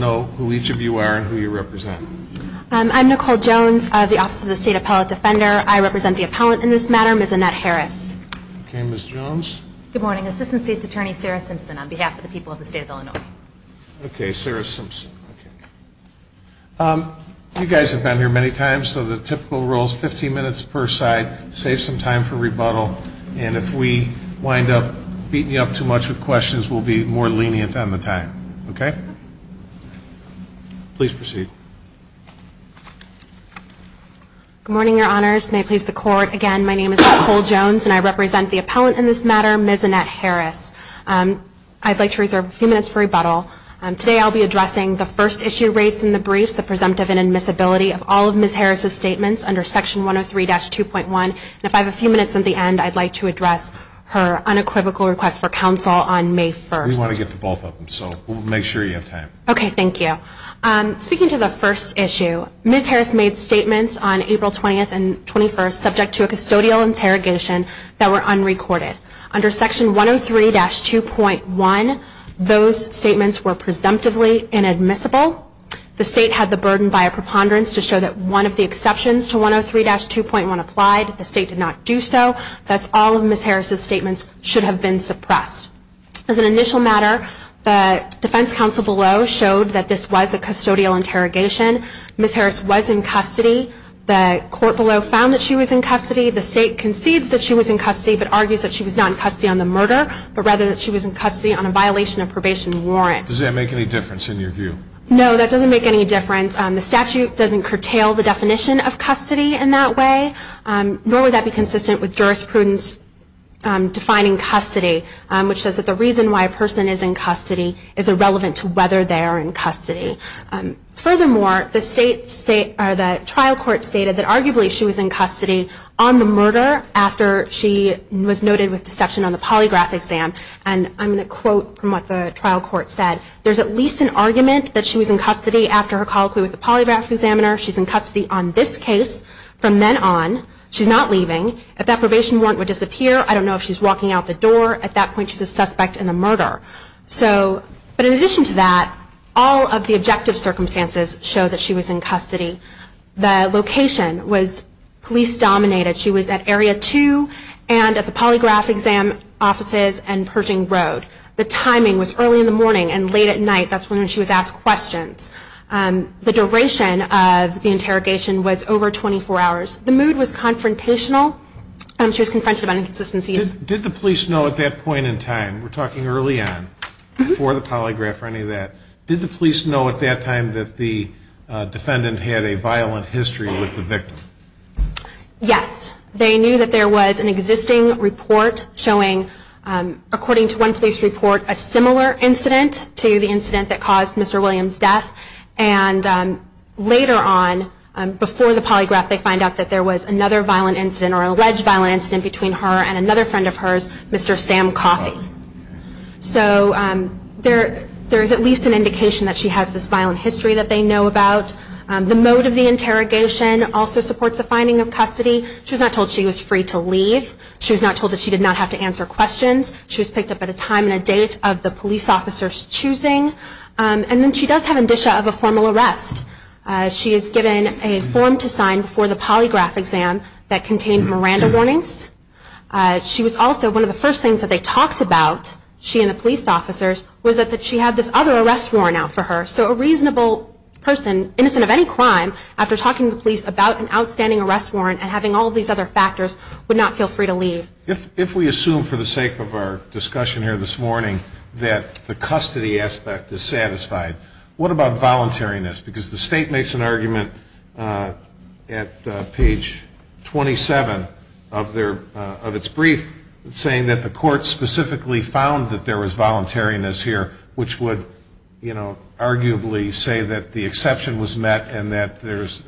know who each of you are and who you represent. I'm Nicole Jones, the Office of the State Appellate Defender. I represent the appellant in this matter, Ms. Annette Harris. Okay, Ms. Jones. Good morning. Assistant State's Attorney, Sarah Simpson, on behalf of the people of the state of Illinois. Okay, Sarah Simpson. You guys have been here many times, so the typical rule is 15 minutes per side. Save some time for rebuttal. And if we wind up beating you up too much with questions, we'll be more lenient on the time. Okay? Please proceed. Good morning, Your Honors. May it please the Court. Again, my name is Nicole Jones, and I represent the appellant in this matter, Ms. Annette Harris. I'd like to reserve a few minutes for rebuttal. Today I'll be addressing the first issue raised in the briefs, the presumptive inadmissibility of all of Ms. Harris' statements under Section 103-2.1. If I have a few minutes at the end, I'd like to address her unequivocal request for counsel on May 1st. We want to get to both of them, so we'll make sure you have time. Okay, thank you. Speaking to the first issue, Ms. Harris made statements on April 20th and 21st subject to a custodial interrogation that were unrecorded. Under Section 103-2.1, those statements were presumptively inadmissible. The state had the burden via preponderance to show that one of the exceptions to 103-2.1 applied. The state did not do so. Thus, all of Ms. Harris' statements should have been suppressed. As an initial matter, the defense counsel below showed that this was a custodial interrogation. Ms. Harris was in custody. The court below found that she was in custody. The state concedes that she was in custody but argues that she was not in custody on the murder but rather that she was in custody on a violation of probation warrant. Does that make any difference in your view? No, that doesn't make any difference. The statute doesn't curtail the definition of custody in that way, nor would that be consistent with jurisprudence defining custody, which says that the reason why a person is in custody is irrelevant to whether they are in custody. Furthermore, the trial court stated that arguably she was in custody on the murder after she was noted with deception on the polygraph exam. And I'm going to quote from what the trial court said. There's at least an argument that she was in custody after her colloquy with the polygraph examiner. She's in custody on this case from then on. She's not leaving. If that probation warrant would disappear, I don't know if she's walking out the door. At that point, she's a suspect in the murder. But in addition to that, all of the objective circumstances show that she was in custody. The location was police-dominated. She was at Area 2 and at the polygraph exam offices and Pershing Road. The timing was early in the morning and late at night. That's when she was asked questions. The duration of the interrogation was over 24 hours. The mood was confrontational. She was confronted about inconsistencies. Did the police know at that point in time, we're talking early on, before the polygraph or any of that, did the police know at that time that the defendant had a violent history with the victim? Yes. They knew that there was an existing report showing, according to one police report, a similar incident to the incident that caused Mr. Williams' death. And later on, before the polygraph, they find out that there was another violent incident or alleged violent incident between her and another friend of hers, Mr. Sam Coffey. So there is at least an indication that she has this violent history that they know about. The mode of the interrogation also supports a finding of custody. She was not told she was free to leave. She was not told that she did not have to answer questions. She was picked up at a time and a date of the police officer's choosing. And then she does have indicia of a formal arrest. She is given a form to sign before the polygraph exam that contained Miranda warnings. She was also, one of the first things that they talked about, she and the police officers, was that she had this other arrest warrant out for her. So a reasonable person, innocent of any crime, after talking to the police about an outstanding arrest warrant and having all these other factors, would not feel free to leave. If we assume for the sake of our discussion here this morning that the custody aspect is satisfied, what about voluntariness? Because the state makes an argument at page 27 of its brief, saying that the court specifically found that there was voluntariness here, which would, you know, arguably say that the exception was met and that there's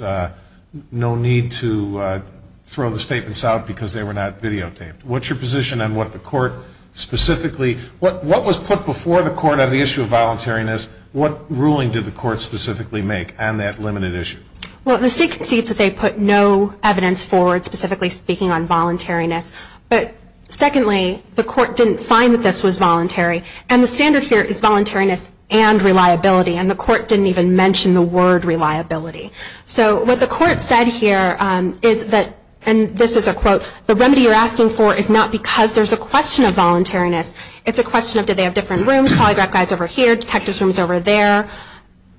no need to throw the statements out because they were not videotaped. What's your position on what the court specifically, what was put before the court on the issue of voluntariness? What ruling did the court specifically make on that limited issue? Well, the state concedes that they put no evidence forward specifically speaking on voluntariness. But secondly, the court didn't find that this was voluntary. And the standard here is voluntariness and reliability. And the court didn't even mention the word reliability. So what the court said here is that, and this is a quote, the remedy you're asking for is not because there's a question of voluntariness, it's a question of do they have different rooms, polygraph guys over here, detective's rooms over there,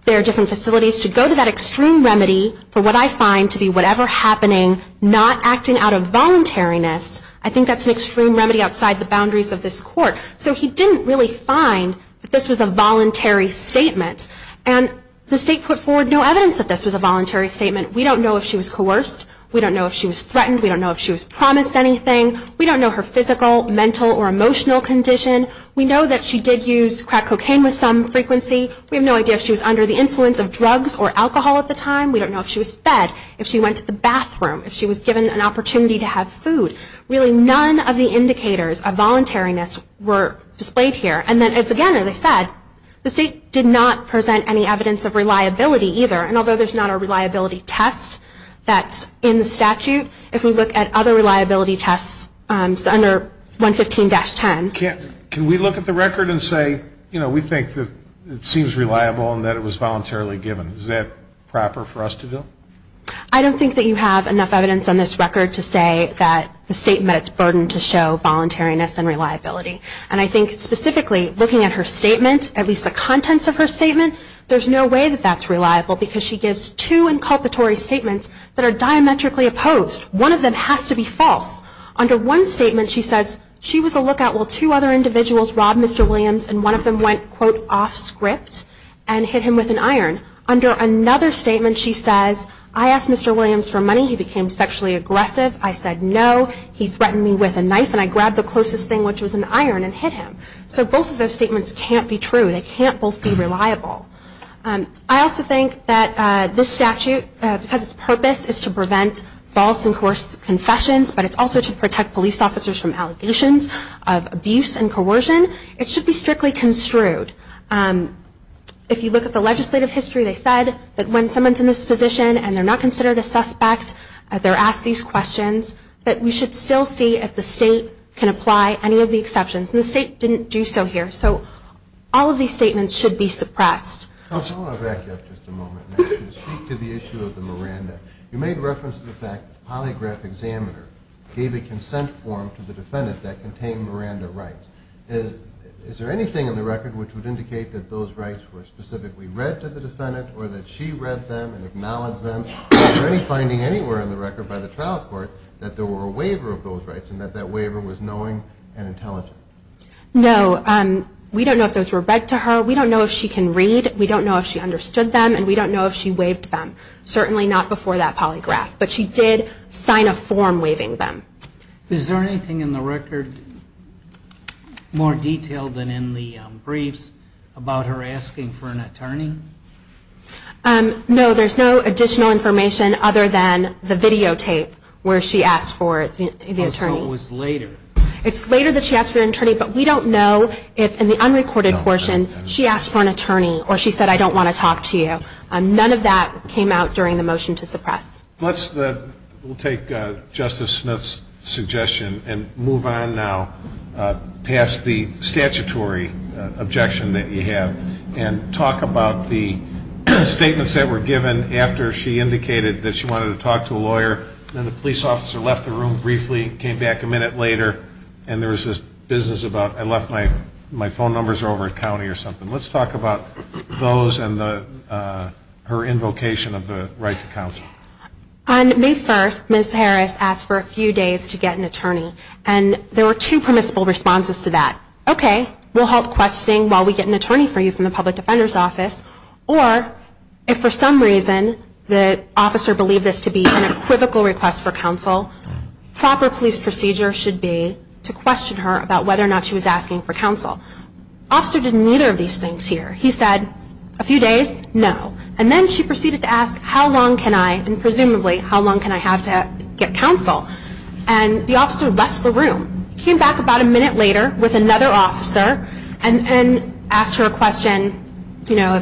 there are different facilities. To go to that extreme remedy, for what I find to be whatever happening, not acting out of voluntariness, I think that's an extreme remedy outside the boundaries of this court. So he didn't really find that this was a voluntary statement. And the state put forward no evidence that this was a voluntary statement. We don't know if she was coerced. We don't know if she was threatened. We don't know if she was promised anything. We don't know her physical, mental, or emotional condition. We know that she did use crack cocaine with some frequency. We have no idea if she was under the influence of drugs or alcohol at the time. We don't know if she was fed, if she went to the bathroom, if she was given an opportunity to have food. Really, none of the indicators of voluntariness were displayed here. And then, again, as I said, the state did not present any evidence of reliability either. And although there's not a reliability test that's in the statute, if we look at other reliability tests under 115-10. Can we look at the record and say, you know, we think that it seems reliable and that it was voluntarily given? Is that proper for us to do? I don't think that you have enough evidence on this record to say that the state met its burden to show voluntariness and reliability. And I think, specifically, looking at her statement, at least the contents of her statement, there's no way that that's reliable because she gives two inculpatory statements that are diametrically opposed. One of them has to be false. Under one statement, she says she was a lookout while two other individuals robbed Mr. Williams and one of them went, quote, off script and hit him with an iron. Under another statement, she says, I asked Mr. Williams for money. He became sexually aggressive. I said no. He threatened me with a knife and I grabbed the closest thing, which was an iron, and hit him. So both of those statements can't be true. They can't both be reliable. I also think that this statute, because its purpose is to prevent false and coerced confessions, but it's also to protect police officers from allegations of abuse and coercion, it should be strictly construed. If you look at the legislative history, they said that when someone's in this position and they're not considered a suspect, they're asked these questions, that we should still see if the state can apply any of the exceptions. And the state didn't do so here. So all of these statements should be suppressed. I want to back up just a moment now to speak to the issue of the Miranda. You made reference to the fact that the polygraph examiner gave a consent form to the defendant that contained Miranda rights. Is there anything in the record which would indicate that those rights were specifically read to the defendant or that she read them and acknowledged them? Is there any finding anywhere in the record by the trial court that there were a waiver of those rights and that that waiver was knowing and intelligent? No. We don't know if those were read to her. We don't know if she can read. We don't know if she understood them, and we don't know if she waived them. Certainly not before that polygraph. But she did sign a form waiving them. Is there anything in the record more detailed than in the briefs about her asking for an attorney? No. There's no additional information other than the videotape where she asked for the attorney. So it was later? It's later that she asked for an attorney, but we don't know if in the unrecorded portion she asked for an attorney or she said, I don't want to talk to you. None of that came out during the motion to suppress. Let's take Justice Smith's suggestion and move on now past the statutory objection that you have and talk about the statements that were given after she indicated that she wanted to talk to a lawyer and then the police officer left the room briefly, came back a minute later, and there was this business about I left my phone numbers over at county or something. Let's talk about those and her invocation of the right to counsel. On May 1st, Ms. Harris asked for a few days to get an attorney. And there were two permissible responses to that. Okay, we'll halt questioning while we get an attorney for you from the public defender's office. Or if for some reason the officer believed this to be an equivocal request for counsel, proper police procedure should be to question her about whether or not she was asking for counsel. The officer did neither of these things here. He said a few days, no. And then she proceeded to ask how long can I, and presumably how long can I have to get counsel? And the officer left the room, came back about a minute later with another officer, and asked her a question, you know,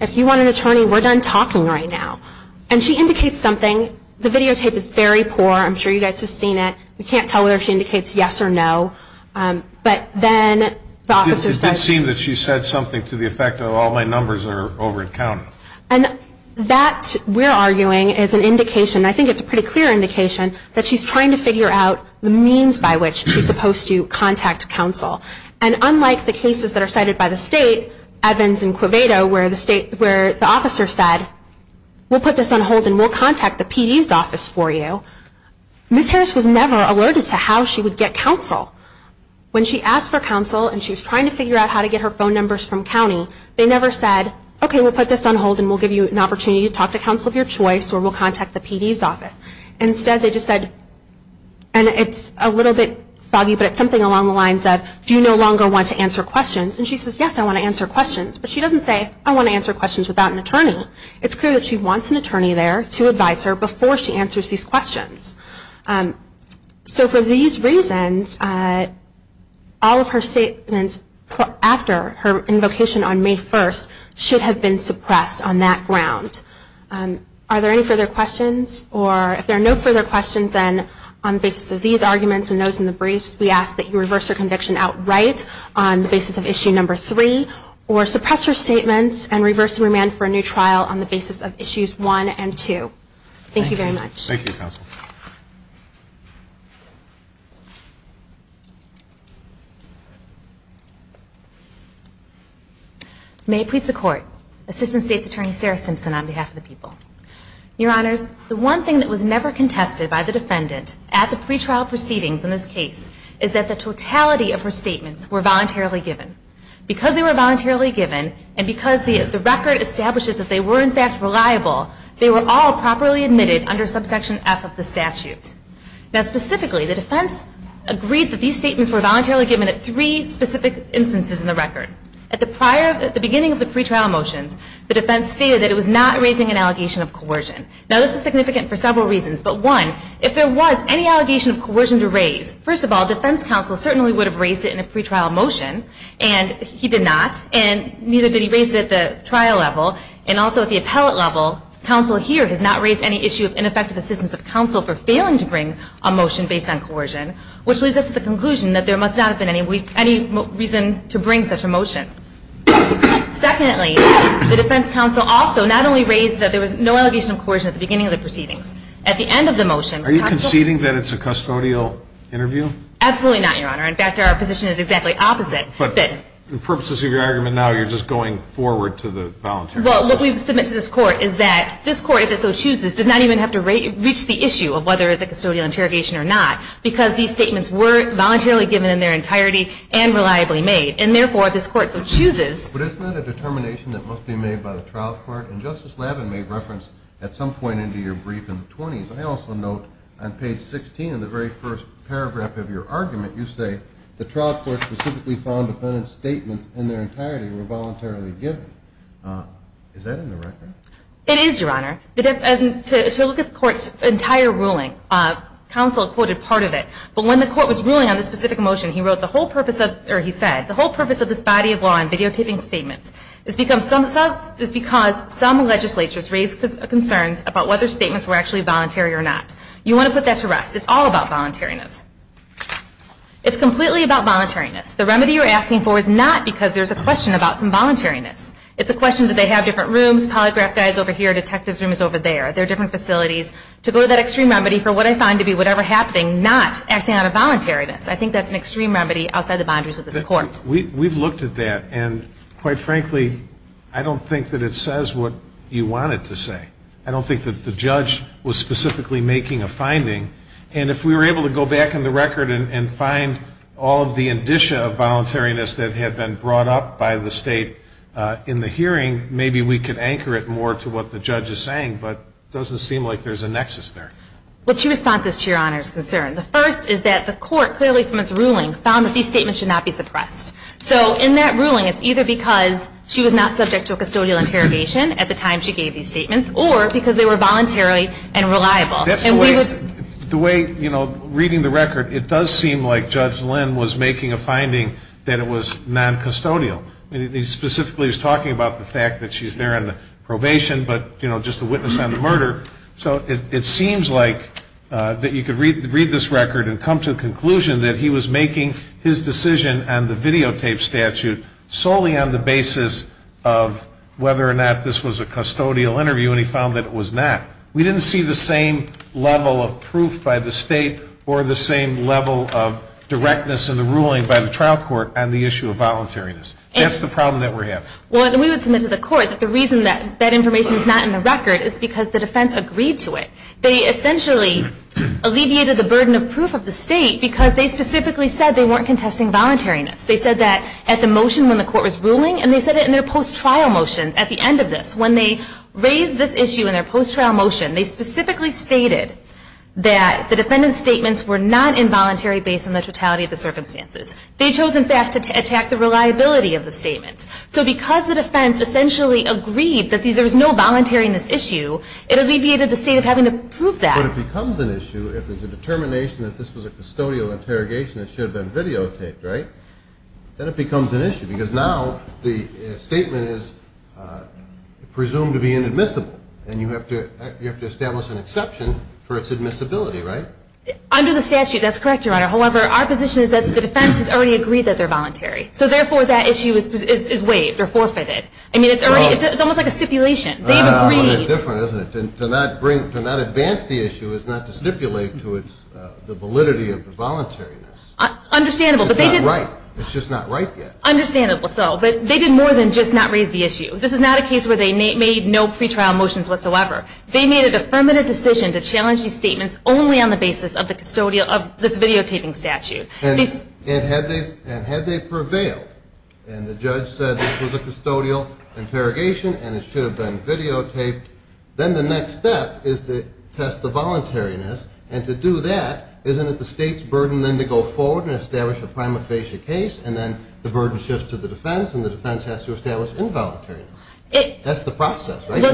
if you want an attorney, we're done talking right now. And she indicates something. The videotape is very poor. I'm sure you guys have seen it. We can't tell whether she indicates yes or no. But then the officer said. It did seem that she said something to the effect that all my numbers are over-counting. And that, we're arguing, is an indication, I think it's a pretty clear indication, that she's trying to figure out the means by which she's supposed to contact counsel. And unlike the cases that are cited by the state, Evans and Quvedo, where the state, where the officer said, we'll put this on hold and we'll contact the PD's office for you, Ms. Harris was never alerted to how she would get counsel. When she asked for counsel, and she was trying to figure out how to get her phone numbers from county, they never said, okay, we'll put this on hold and we'll give you an opportunity to talk to counsel of your choice, or we'll contact the PD's office. Instead, they just said, and it's a little bit foggy, but it's something along the lines of, do you no longer want to answer questions? And she says, yes, I want to answer questions. But she doesn't say, I want to answer questions without an attorney. It's clear that she wants an attorney there to advise her before she answers these questions. So for these reasons, all of her statements after her invocation on May 1st, should have been suppressed on that ground. Are there any further questions? Or if there are no further questions, then on the basis of these arguments and those in the briefs, we ask that you reverse your conviction outright on the basis of issue number 3, or suppress your statements and reverse and remand for a new trial on the basis of issues 1 and 2. Thank you very much. Thank you, counsel. May it please the Court, Assistant State's Attorney Sarah Simpson on behalf of the people. Your Honors, the one thing that was never contested by the defendant at the pretrial proceedings in this case is that the totality of her statements were voluntarily given. Because they were voluntarily given and because the record establishes that they were in fact reliable, they were all properly admitted under subsection F of the statute. Now specifically, the defense agreed that these statements were voluntarily given at three specific instances in the record. At the beginning of the pretrial motions, the defense stated that it was not raising an allegation of coercion. Now this is significant for several reasons, but one, if there was any allegation of coercion to raise, first of all, defense counsel certainly would have raised it in a pretrial motion and he did not and neither did he raise it at the trial level and also at the appellate level. Counsel here has not raised any issue of ineffective assistance of counsel for failing to bring a motion based on coercion, which leads us to the conclusion that there must not have been any reason to bring such a motion. Secondly, the defense counsel also not only raised that there was no allegation of coercion at the beginning of the proceedings, at the end of the motion. Are you conceding that it's a custodial interview? Absolutely not, Your Honor. In fact, our position is exactly opposite. But in purposes of your argument now, you're just going forward to the voluntary process. Well, what we've submitted to this Court is that this Court, if it so chooses, does not even have to reach the issue of whether it's a custodial interrogation or not because these statements were voluntarily given in their entirety and reliably made. And therefore, if this Court so chooses But isn't that a determination that must be made by the trial court? And Justice Lavin made reference at some point into your brief in the 20s. I also note on page 16 in the very first paragraph of your argument, you say, the trial court specifically found the defendant's statements in their entirety were voluntarily given. Is that in the record? It is, Your Honor. To look at the Court's entire ruling, counsel quoted part of it. But when the Court was ruling on this specific motion, he wrote, the whole purpose of this body of law and videotaping statements is because some legislatures raised concerns about whether statements were actually voluntary or not. You want to put that to rest. It's all about voluntariness. It's completely about voluntariness. The remedy you're asking for is not because there's a question about some voluntariness. It's a question that they have different rooms. Polygraph guy's over here. Detective's room is over there. There are different facilities. To go to that extreme remedy for what I find to be whatever happening, not acting out of voluntariness, I think that's an extreme remedy outside the boundaries of this Court. We've looked at that, and quite frankly, I don't think that it says what you want it to say. I don't think that the judge was specifically making a finding. And if we were able to go back in the record and find all of the indicia of voluntariness that had been brought up by the State in the hearing, maybe we could anchor it more to what the judge is saying. But it doesn't seem like there's a nexus there. Well, two responses to Your Honor's concern. The first is that the Court, clearly from its ruling, found that these statements should not be suppressed. So in that ruling, it's either because she was not subject to a custodial interrogation at the time she gave these statements, or because they were voluntary and reliable. That's the way, you know, reading the record, it does seem like Judge Lynn was making a finding that it was noncustodial. He specifically was talking about the fact that she's there on probation, but, you know, just a witness on the murder. So it seems like that you could read this record and come to a conclusion that he was making his decision on the videotape statute solely on the basis of whether or not this was a custodial interview, and he found that it was not. We didn't see the same level of proof by the State or the same level of directness in the ruling by the trial court on the issue of voluntariness. That's the problem that we're having. Well, we would submit to the court that the reason that that information is not in the record is because the defense agreed to it. They essentially alleviated the burden of proof of the State because they specifically said they weren't contesting voluntariness. They said that at the motion when the court was ruling, and they said it in their post-trial motions at the end of this. When they raised this issue in their post-trial motion, they specifically stated that the defendant's statements were not involuntary based on the totality of the circumstances. They chose, in fact, to attack the reliability of the statements. So because the defense essentially agreed that there was no voluntariness issue, it alleviated the State of having to prove that. But it becomes an issue if there's a determination that this was a custodial interrogation that should have been videotaped, right? Then it becomes an issue because now the statement is presumed to be inadmissible, and you have to establish an exception for its admissibility, right? Under the statute, that's correct, Your Honor. However, our position is that the defense has already agreed that they're voluntary. So therefore, that issue is waived or forfeited. I mean, it's almost like a stipulation. They've agreed. Well, it's different, isn't it? To not advance the issue is not to stipulate to the validity of the voluntariness. Understandable. It's just not right yet. Understandable. But they did more than just not raise the issue. This is not a case where they made no pretrial motions whatsoever. They made an affirmative decision to challenge these statements only on the basis of this videotaping statute. And had they prevailed and the judge said this was a custodial interrogation and it should have been videotaped, then the next step is to test the voluntariness. And to do that, isn't it the state's burden then to go forward and establish a prima facie case and then the burden shifts to the defense and the defense has to establish involuntariness? That's the process, right? That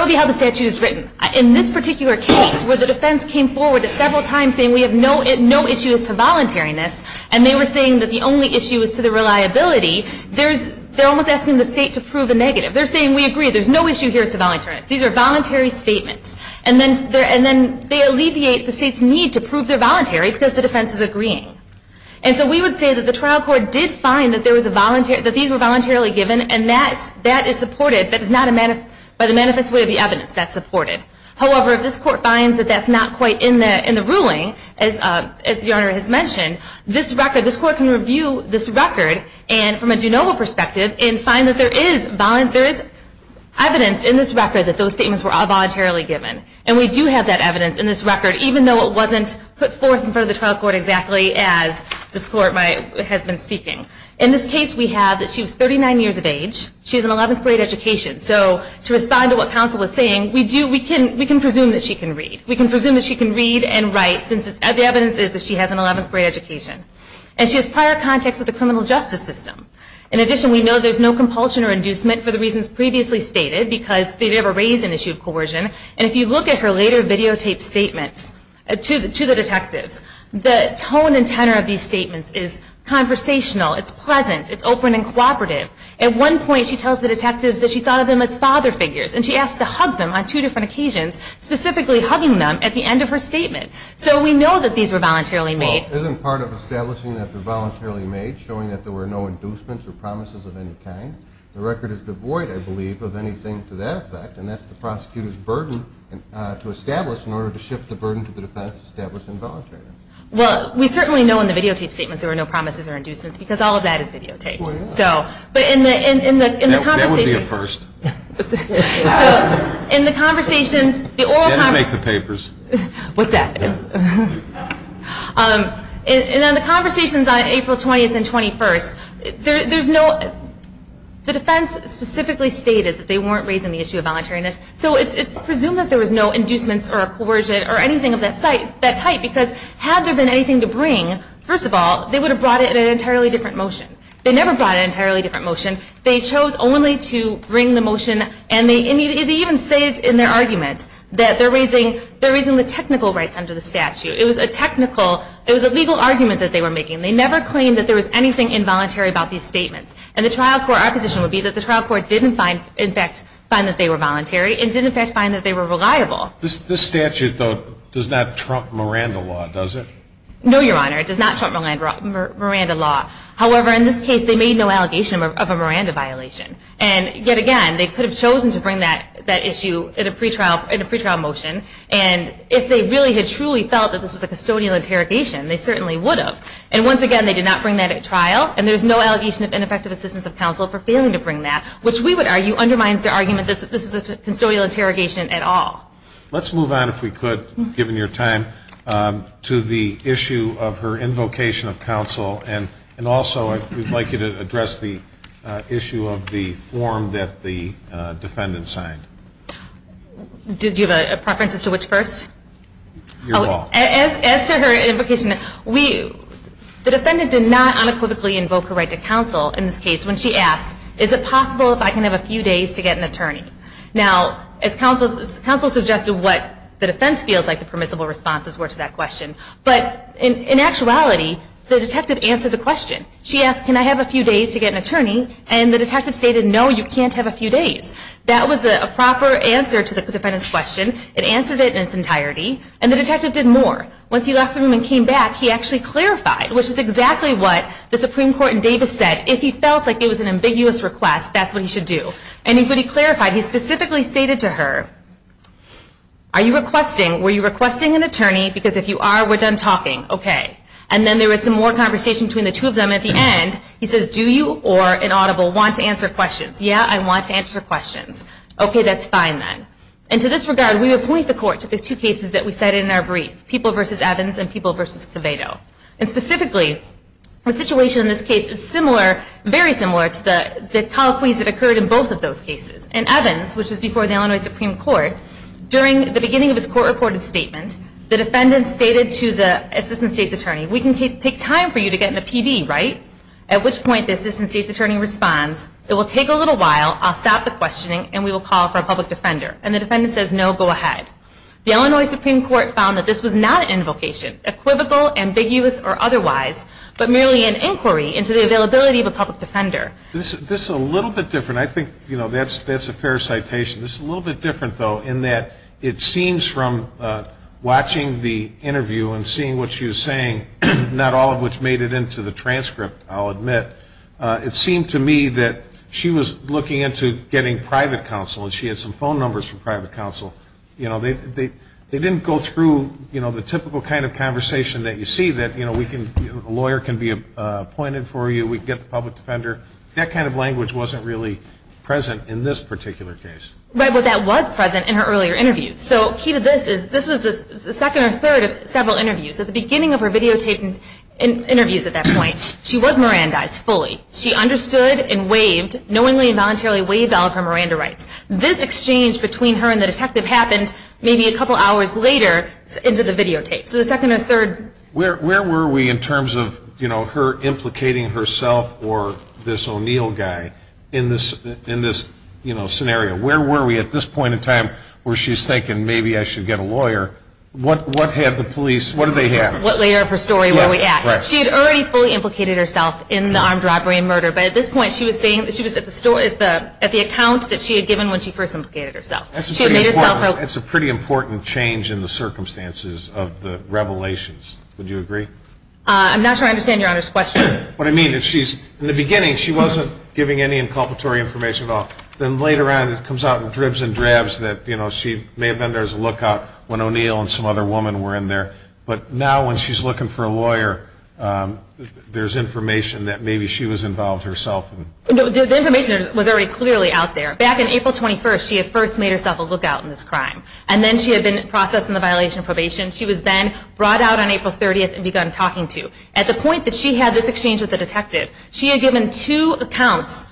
would be how the statute is written. In this particular case where the defense came forward several times saying we have no issues to voluntariness and they were saying that the only issue is to the reliability, they're almost asking the state to prove a negative. They're saying we agree, there's no issue here as to voluntariness. These are voluntary statements. And then they alleviate the state's need to prove they're voluntary because the defense is agreeing. And so we would say that the trial court did find that these were voluntarily given and that is supported by the manifest way of the evidence. That's supported. However, if this court finds that that's not quite in the ruling, as the owner has mentioned, this court can review this record from a do-no-mo perspective and find that there is evidence in this record that those statements were all voluntarily given. And we do have that evidence in this record, even though it wasn't put forth in front of the trial court exactly as this court has been speaking. In this case we have that she was 39 years of age. She has an 11th grade education. So to respond to what counsel was saying, we can presume that she can read. We can presume that she can read and write since the evidence is that she has an 11th grade education. And she has prior contacts with the criminal justice system. In addition, we know there's no compulsion or inducement for the reasons previously stated because they never raised an issue of coercion. And if you look at her later videotaped statements to the detectives, the tone and tenor of these statements is conversational. It's pleasant. It's open and cooperative. At one point she tells the detectives that she thought of them as father figures, and she asked to hug them on two different occasions, specifically hugging them at the end of her statement. So we know that these were voluntarily made. Well, isn't part of establishing that they're voluntarily made showing that there were no inducements or promises of any kind? The record is devoid, I believe, of anything to that effect, and that's the prosecutor's burden to establish in order to shift the burden to the defense to establish involuntariness. Well, we certainly know in the videotaped statements there were no promises or inducements because all of that is videotaped. That would be a first. Then you make the papers. What's that? In the conversations on April 20th and 21st, the defense specifically stated that they weren't raising the issue of voluntariness, so it's presumed that there was no inducements or coercion or anything of that type because had there been anything to bring, first of all, they would have brought it in an entirely different motion. They never brought an entirely different motion. They chose only to bring the motion, and they even say it in their argument that they're raising the technical rights under the statute. It was a legal argument that they were making. They never claimed that there was anything involuntary about these statements, and our position would be that the trial court didn't, in fact, find that they were voluntary and didn't, in fact, find that they were reliable. This statute, though, does not trump Miranda law, does it? No, Your Honor, it does not trump Miranda law. However, in this case, they made no allegation of a Miranda violation. And yet again, they could have chosen to bring that issue in a pretrial motion, and if they really had truly felt that this was a custodial interrogation, they certainly would have. And once again, they did not bring that at trial, and there's no allegation of ineffective assistance of counsel for failing to bring that, which we would argue undermines their argument that this is a custodial interrogation at all. Let's move on, if we could, given your time, to the issue of her invocation of counsel, and also we'd like you to address the issue of the form that the defendant signed. Do you have a preference as to which first? Your ball. As to her invocation, the defendant did not unequivocally invoke her right to counsel in this case when she asked, is it possible if I can have a few days to get an attorney? Now, as counsel suggested, what the defense feels like the permissible responses were to that question. But in actuality, the detective answered the question. She asked, can I have a few days to get an attorney? And the detective stated, no, you can't have a few days. That was a proper answer to the defendant's question. It answered it in its entirety, and the detective did more. Once he left the room and came back, he actually clarified, which is exactly what the Supreme Court in Davis said. If he felt like it was an ambiguous request, that's what he should do. And when he clarified, he specifically stated to her, are you requesting, were you requesting an attorney? Because if you are, we're done talking. OK. And then there was some more conversation between the two of them. At the end, he says, do you or an audible want to answer questions? Yeah, I want to answer questions. OK, that's fine then. And to this regard, we appoint the court to the two cases that we cited in our brief, people versus Evans and people versus Coveto. And specifically, the situation in this case is similar, very similar to the colloquies that occurred in both of those cases. In Evans, which was before the Illinois Supreme Court, during the beginning of his court-reported statement, the defendant stated to the assistant state's attorney, we can take time for you to get in a PD, right? At which point, the assistant state's attorney responds, it will take a little while, I'll stop the questioning, and we will call for a public defender. And the defendant says, no, go ahead. The Illinois Supreme Court found that this was not an invocation, equivocal, ambiguous, or otherwise, but merely an inquiry into the availability of a public defender. This is a little bit different. I think that's a fair citation. This is a little bit different, though, in that it seems from watching the interview and seeing what she was saying, not all of which made it into the transcript, I'll admit, it seemed to me that she was looking into getting private counsel, and she had some phone numbers from private counsel. You know, they didn't go through, you know, the typical kind of conversation that you see that, you know, a lawyer can be appointed for you, we can get the public defender. That kind of language wasn't really present in this particular case. Right, but that was present in her earlier interview. So key to this is this was the second or third of several interviews. At the beginning of her videotaped interviews at that point, she was Mirandized fully. She understood and waived, knowingly and voluntarily waived all of her Miranda rights. This exchange between her and the detective happened maybe a couple hours later into the videotapes. So the second or third. Where were we in terms of, you know, her implicating herself or this O'Neill guy in this, you know, scenario? Where were we at this point in time where she's thinking maybe I should get a lawyer? What had the police, what did they have? What layer of her story were we at? She had already fully implicated herself in the armed robbery and murder, but at this point she was saying she was at the account that she had given when she first implicated herself. That's a pretty important change in the circumstances of the revelations. Would you agree? I'm not sure I understand Your Honor's question. What I mean is she's, in the beginning she wasn't giving any inculpatory information at all. Then later on it comes out in dribs and drabs that, you know, she may have been there as a lookout when O'Neill and some other woman were in there. But now when she's looking for a lawyer, there's information that maybe she was involved herself. The information was already clearly out there. Back in April 21st she had first made herself a lookout in this crime. And then she had been processed in the violation of probation. She was then brought out on April 30th and begun talking to. At the point that she had this exchange with the detective, she had given two accounts,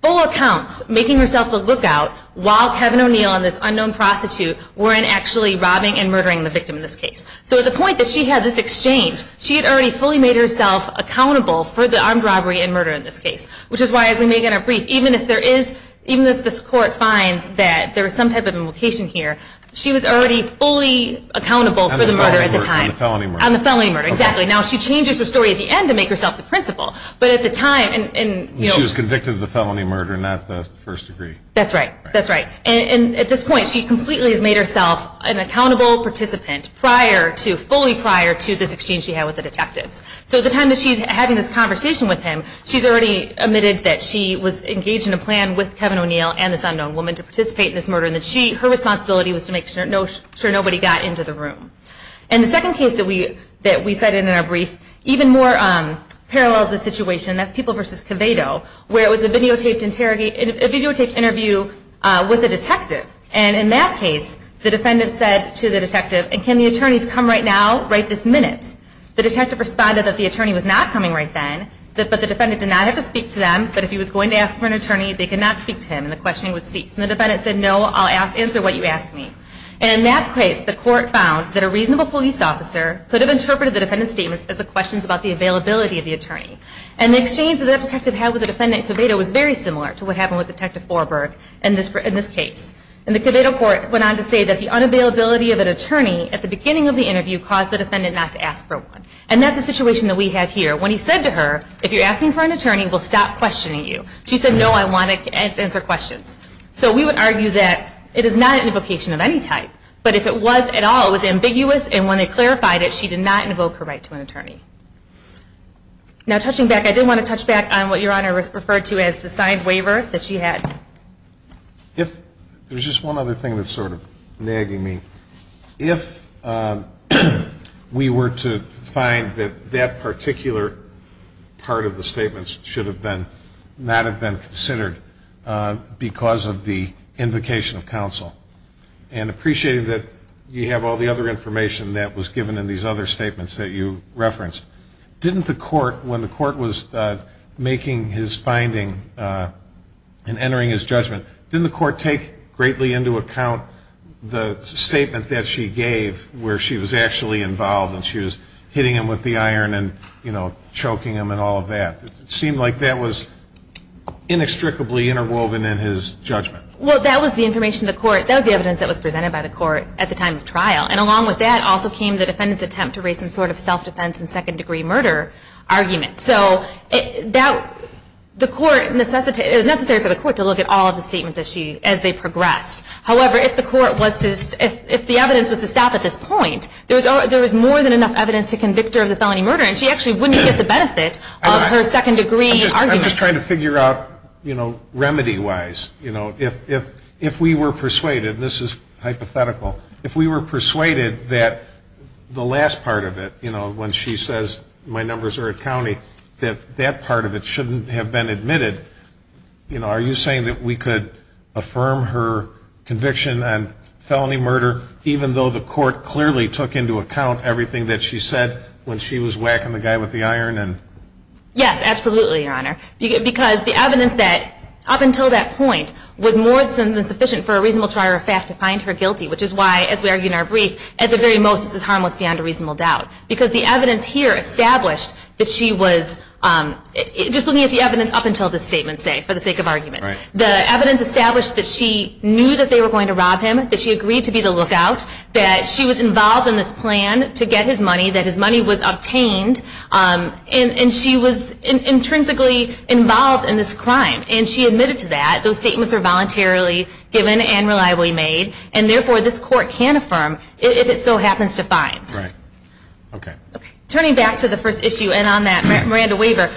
full accounts, making herself a lookout while Kevin O'Neill and this unknown prostitute weren't actually robbing and murdering the victim in this case. So at the point that she had this exchange, she had already fully made herself accountable for the armed robbery and murder in this case. Which is why, as we make in our brief, even if there is, even if this court finds that there is some type of implication here, she was already fully accountable for the murder at the time. On the felony murder. On the felony murder, exactly. Now she changes her story at the end to make herself the principal. But at the time, and, you know. She was convicted of the felony murder, not the first degree. That's right. That's right. And at this point, she completely has made herself an accountable participant prior to, fully prior to this exchange she had with the detectives. So at the time that she's having this conversation with him, she's already admitted that she was engaged in a plan with Kevin O'Neill and this unknown woman to participate in this murder. And that her responsibility was to make sure nobody got into the room. And the second case that we cited in our brief, even more parallels this situation. That's People v. Covado, where it was a videotaped interview with a detective. And in that case, the defendant said to the detective, and can the attorneys come right now, right this minute? The detective responded that the attorney was not coming right then, but the defendant did not have to speak to them, but if he was going to ask for an attorney, they could not speak to him and the questioning would cease. And the defendant said, no, I'll answer what you ask me. And in that case, the court found that a reasonable police officer could have interpreted the defendant's statements as the questions about the availability of the attorney. And the exchange that the detective had with the defendant in Covado was very similar to what happened with Detective Forberg in this case. And the Covado court went on to say that the unavailability of an attorney at the beginning of the interview caused the defendant not to ask for one. And that's a situation that we have here. When he said to her, if you're asking for an attorney, we'll stop questioning you. She said, no, I want to answer questions. So we would argue that it is not an invocation of any type. But if it was at all, it was ambiguous. And when they clarified it, she did not invoke her right to an attorney. Now, touching back, I did want to touch back on what Your Honor referred to as the signed waiver that she had. If there's just one other thing that's sort of nagging me. If we were to find that that particular part of the statements should not have been considered because of the invocation of counsel and appreciated that you have all the other information that was given in these other statements that you referenced, didn't the court, when the court was making his finding and entering his judgment, didn't the court take greatly into account the statement that she gave where she was actually involved and she was hitting him with the iron and, you know, choking him and all of that? It seemed like that was inextricably interwoven in his judgment. Well, that was the information of the court. And along with that also came the defendant's attempt to raise some sort of self-defense and second-degree murder argument. So the court necessitated, it was necessary for the court to look at all of the statements as they progressed. However, if the evidence was to stop at this point, there was more than enough evidence to convict her of the felony murder, and she actually wouldn't get the benefit of her second-degree arguments. I'm just trying to figure out, you know, remedy-wise. You know, if we were persuaded, and this is hypothetical, if we were persuaded that the last part of it, you know, when she says, my numbers are at county, that that part of it shouldn't have been admitted, you know, are you saying that we could affirm her conviction on felony murder even though the court clearly took into account everything that she said when she was whacking the guy with the iron? Yes, absolutely, Your Honor. Because the evidence that up until that point was more than sufficient for a reasonable trier of fact to find her guilty, which is why, as we argue in our brief, at the very most this is harmless beyond a reasonable doubt. Because the evidence here established that she was, just looking at the evidence up until this statement, say, for the sake of argument, the evidence established that she knew that they were going to rob him, that she agreed to be the lookout, that she was involved in this plan to get his money, that his money was obtained, and she was intrinsically involved in this crime. And she admitted to that. Those statements are voluntarily given and reliably made, and therefore this court can affirm if it so happens to find. Right. Okay. Turning back to the first issue, and on that, Miranda Waver.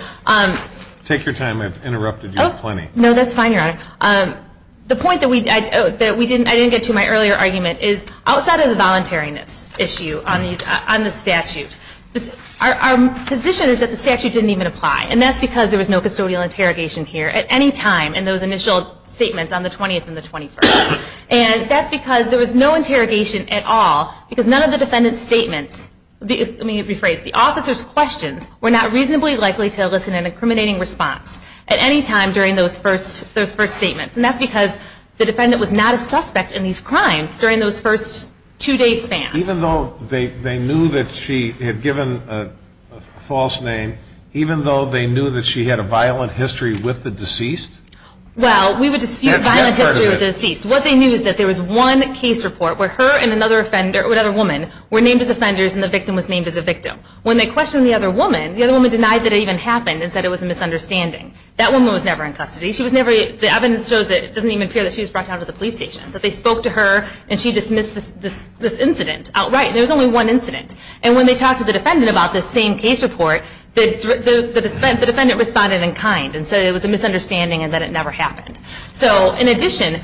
Take your time. I've interrupted you plenty. No, that's fine, Your Honor. The point that I didn't get to in my earlier argument is, outside of the voluntariness issue on the statute, our position is that the statute didn't even apply, and that's because there was no custodial interrogation here. At any time in those initial statements on the 20th and the 21st. And that's because there was no interrogation at all, because none of the defendant's statements, let me rephrase, the officer's questions were not reasonably likely to elicit an incriminating response at any time during those first statements. And that's because the defendant was not a suspect in these crimes during those first two-day spans. Even though they knew that she had given a false name, even though they knew that she had a violent history with the deceased? Well, we would dispute violent history with the deceased. What they knew is that there was one case report where her and another woman were named as offenders and the victim was named as a victim. When they questioned the other woman, the other woman denied that it even happened and said it was a misunderstanding. That woman was never in custody. The evidence shows that it doesn't even appear that she was brought down to the police station, that they spoke to her and she dismissed this incident outright, and there was only one incident. And when they talked to the defendant about this same case report, the defendant responded in kind and said it was a misunderstanding and that it never happened. So in addition,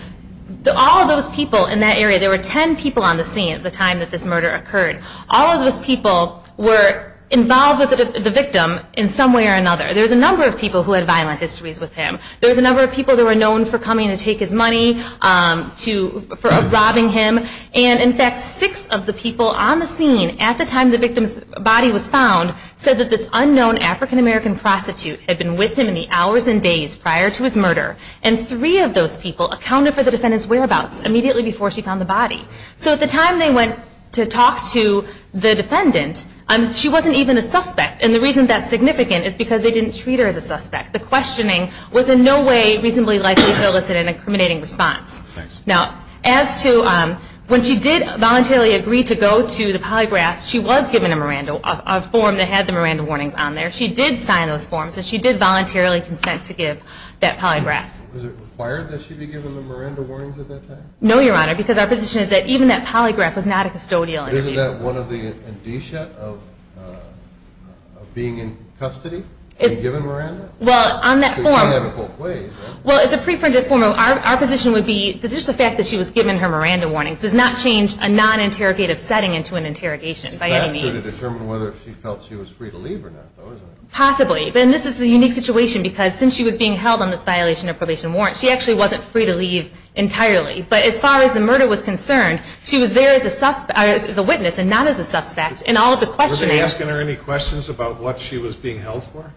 all of those people in that area, there were 10 people on the scene at the time that this murder occurred. All of those people were involved with the victim in some way or another. There was a number of people who had violent histories with him. There was a number of people that were known for coming to take his money, for robbing him. And in fact, six of the people on the scene at the time the victim's body was found said that this unknown African-American prostitute had been with him in the hours and days prior to his murder. And three of those people accounted for the defendant's whereabouts immediately before she found the body. So at the time they went to talk to the defendant, she wasn't even a suspect. And the reason that's significant is because they didn't treat her as a suspect. The questioning was in no way reasonably likely to elicit an incriminating response. Now, as to when she did voluntarily agree to go to the polygraph, she was given a form that had the Miranda warnings on there. She did sign those forms, and she did voluntarily consent to give that polygraph. Was it required that she be given the Miranda warnings at that time? No, Your Honor, because our position is that even that polygraph was not a custodial issue. Isn't that one of the indicia of being in custody and given Miranda? Well, on that form. Because you have it both ways, right? Well, it's a pre-printed form. Our position would be that just the fact that she was given her Miranda warnings does not change a non-interrogative setting into an interrogation by any means. It's better to determine whether she felt she was free to leave or not, though, isn't it? Possibly. And this is a unique situation because since she was being held on this violation of probation and warrant, she actually wasn't free to leave entirely. But as far as the murder was concerned, she was there as a witness and not as a suspect. And all of the questioning – Were they asking her any questions about what she was being held for?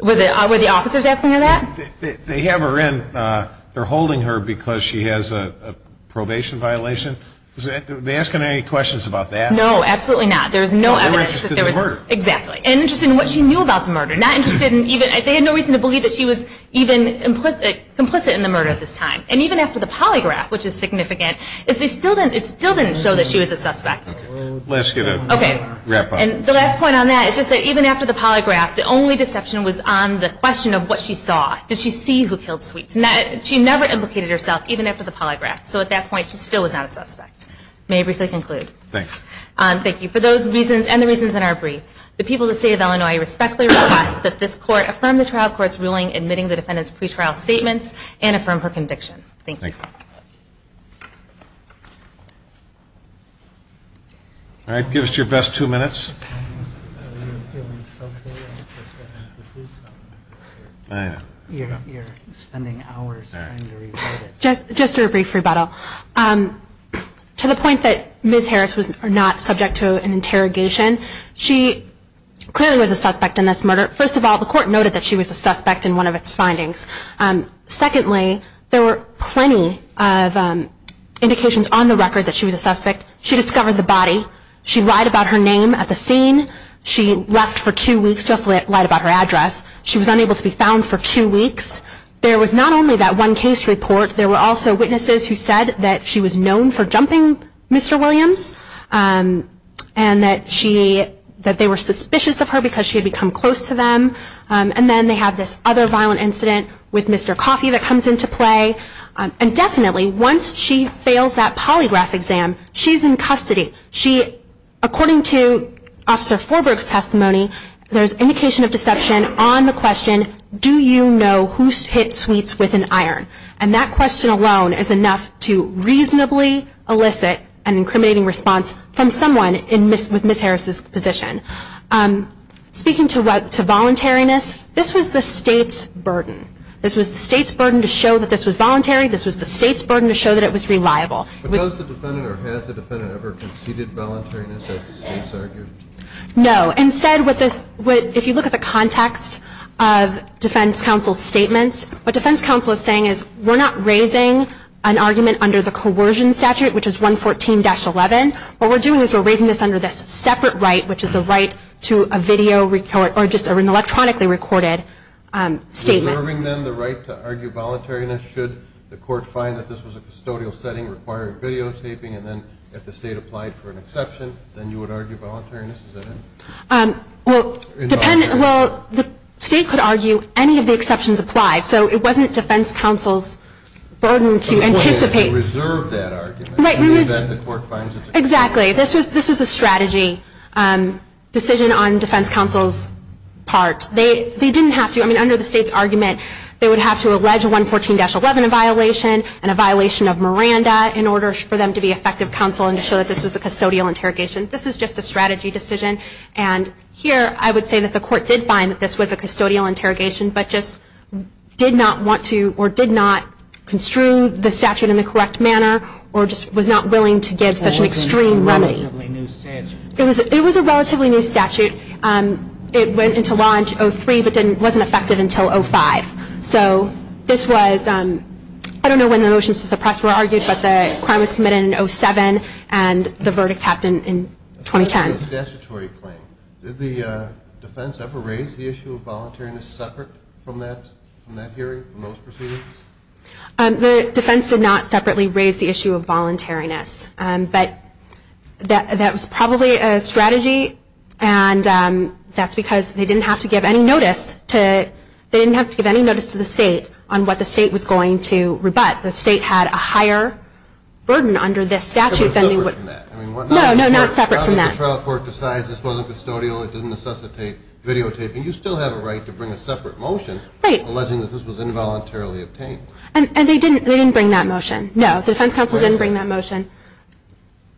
Were the officers asking her that? They have her in. They're holding her because she has a probation violation. Were they asking her any questions about that? No, absolutely not. There's no evidence that there was – Because they were interested in the murder. Exactly. And interested in what she knew about the murder. Not interested in even – they had no reason to believe that she was even complicit in the murder at this time. And even after the polygraph, which is significant, it still didn't show that she was a suspect. Let's get a wrap-up. Okay. And the last point on that is just that even after the polygraph, the only deception was on the question of what she saw. Did she see who killed Sweets? She never implicated herself even after the polygraph. So at that point, she still was not a suspect. May I briefly conclude? Thanks. Thank you. For those reasons and the reasons in our brief, the people of the State of Illinois respectfully request that this Court affirm the trial court's ruling admitting the defendant's pretrial statements and affirm her conviction. Thank you. Thank you. All right. Give us your best two minutes. Okay. I know. You're spending hours trying to rewrite it. Just a brief rebuttal. To the point that Ms. Harris was not subject to an interrogation, she clearly was a suspect in this murder. First of all, the Court noted that she was a suspect in one of its findings. Secondly, there were plenty of indications on the record that she was a suspect. She discovered the body. She lied about her name at the scene. She left for two weeks just to lie about her address. She was unable to be found for two weeks. There was not only that one case report. There were also witnesses who said that she was known for jumping Mr. Williams and that they were suspicious of her because she had become close to them. And then they have this other violent incident with Mr. Coffey that comes into play. And definitely, once she fails that polygraph exam, she's in custody. According to Officer Forbrook's testimony, there's indication of deception on the question, do you know who hit Sweets with an iron? And that question alone is enough to reasonably elicit an incriminating response from someone with Ms. Harris's position. Speaking to voluntariness, this was the State's burden. This was the State's burden to show that this was voluntary. This was the State's burden to show that it was reliable. But has the defendant ever conceded voluntariness as the State's argued? No. Instead, if you look at the context of defense counsel's statements, what defense counsel is saying is we're not raising an argument under the coercion statute, which is 114-11. What we're doing is we're raising this under this separate right, which is the right to a video or just an electronically recorded statement. Preserving, then, the right to argue voluntariness should the court find that this was a custodial setting requiring videotaping, and then if the State applied for an exception, then you would argue voluntariness? Is that it? Well, the State could argue any of the exceptions applied. So it wasn't defense counsel's burden to anticipate. Reserve that argument. Right. In the event the court finds it. Exactly. This was a strategy decision on defense counsel's part. They didn't have to. I mean, under the State's argument, they would have to allege 114-11 in violation of Miranda in order for them to be effective counsel and to show that this was a custodial interrogation. This is just a strategy decision. And here I would say that the court did find that this was a custodial interrogation, but just did not want to or did not construe the statute in the correct manner or just was not willing to give such an extreme remedy. It was a relatively new statute. It was a relatively new statute. It went into law in 2003 but wasn't effective until 2005. So this was, I don't know when the motions to suppress were argued, but the crime was committed in 2007 and the verdict happened in 2010. Statutory claim. Did the defense ever raise the issue of voluntariness separate from that hearing, from those proceedings? The defense did not separately raise the issue of voluntariness. But that was probably a strategy, and that's because they didn't have to give any notice to the state on what the state was going to rebut. The state had a higher burden under this statute. It was separate from that. No, not separate from that. The trial court decides this wasn't custodial, it didn't necessitate videotaping, you still have a right to bring a separate motion alleging that this was involuntarily obtained. And they didn't bring that motion. No, the defense counsel didn't bring that motion.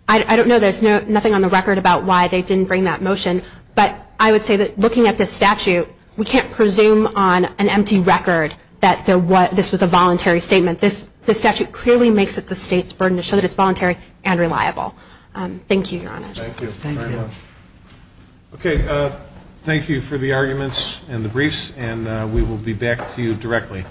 I don't know, there's nothing on the record about why they didn't bring that motion. But I would say that looking at this statute, we can't presume on an empty record that this was a voluntary statement. This statute clearly makes it the state's burden to show that it's voluntary and reliable. Thank you, Your Honors. Thank you very much. Okay, thank you for the arguments and the briefs, and we will be back to you directly.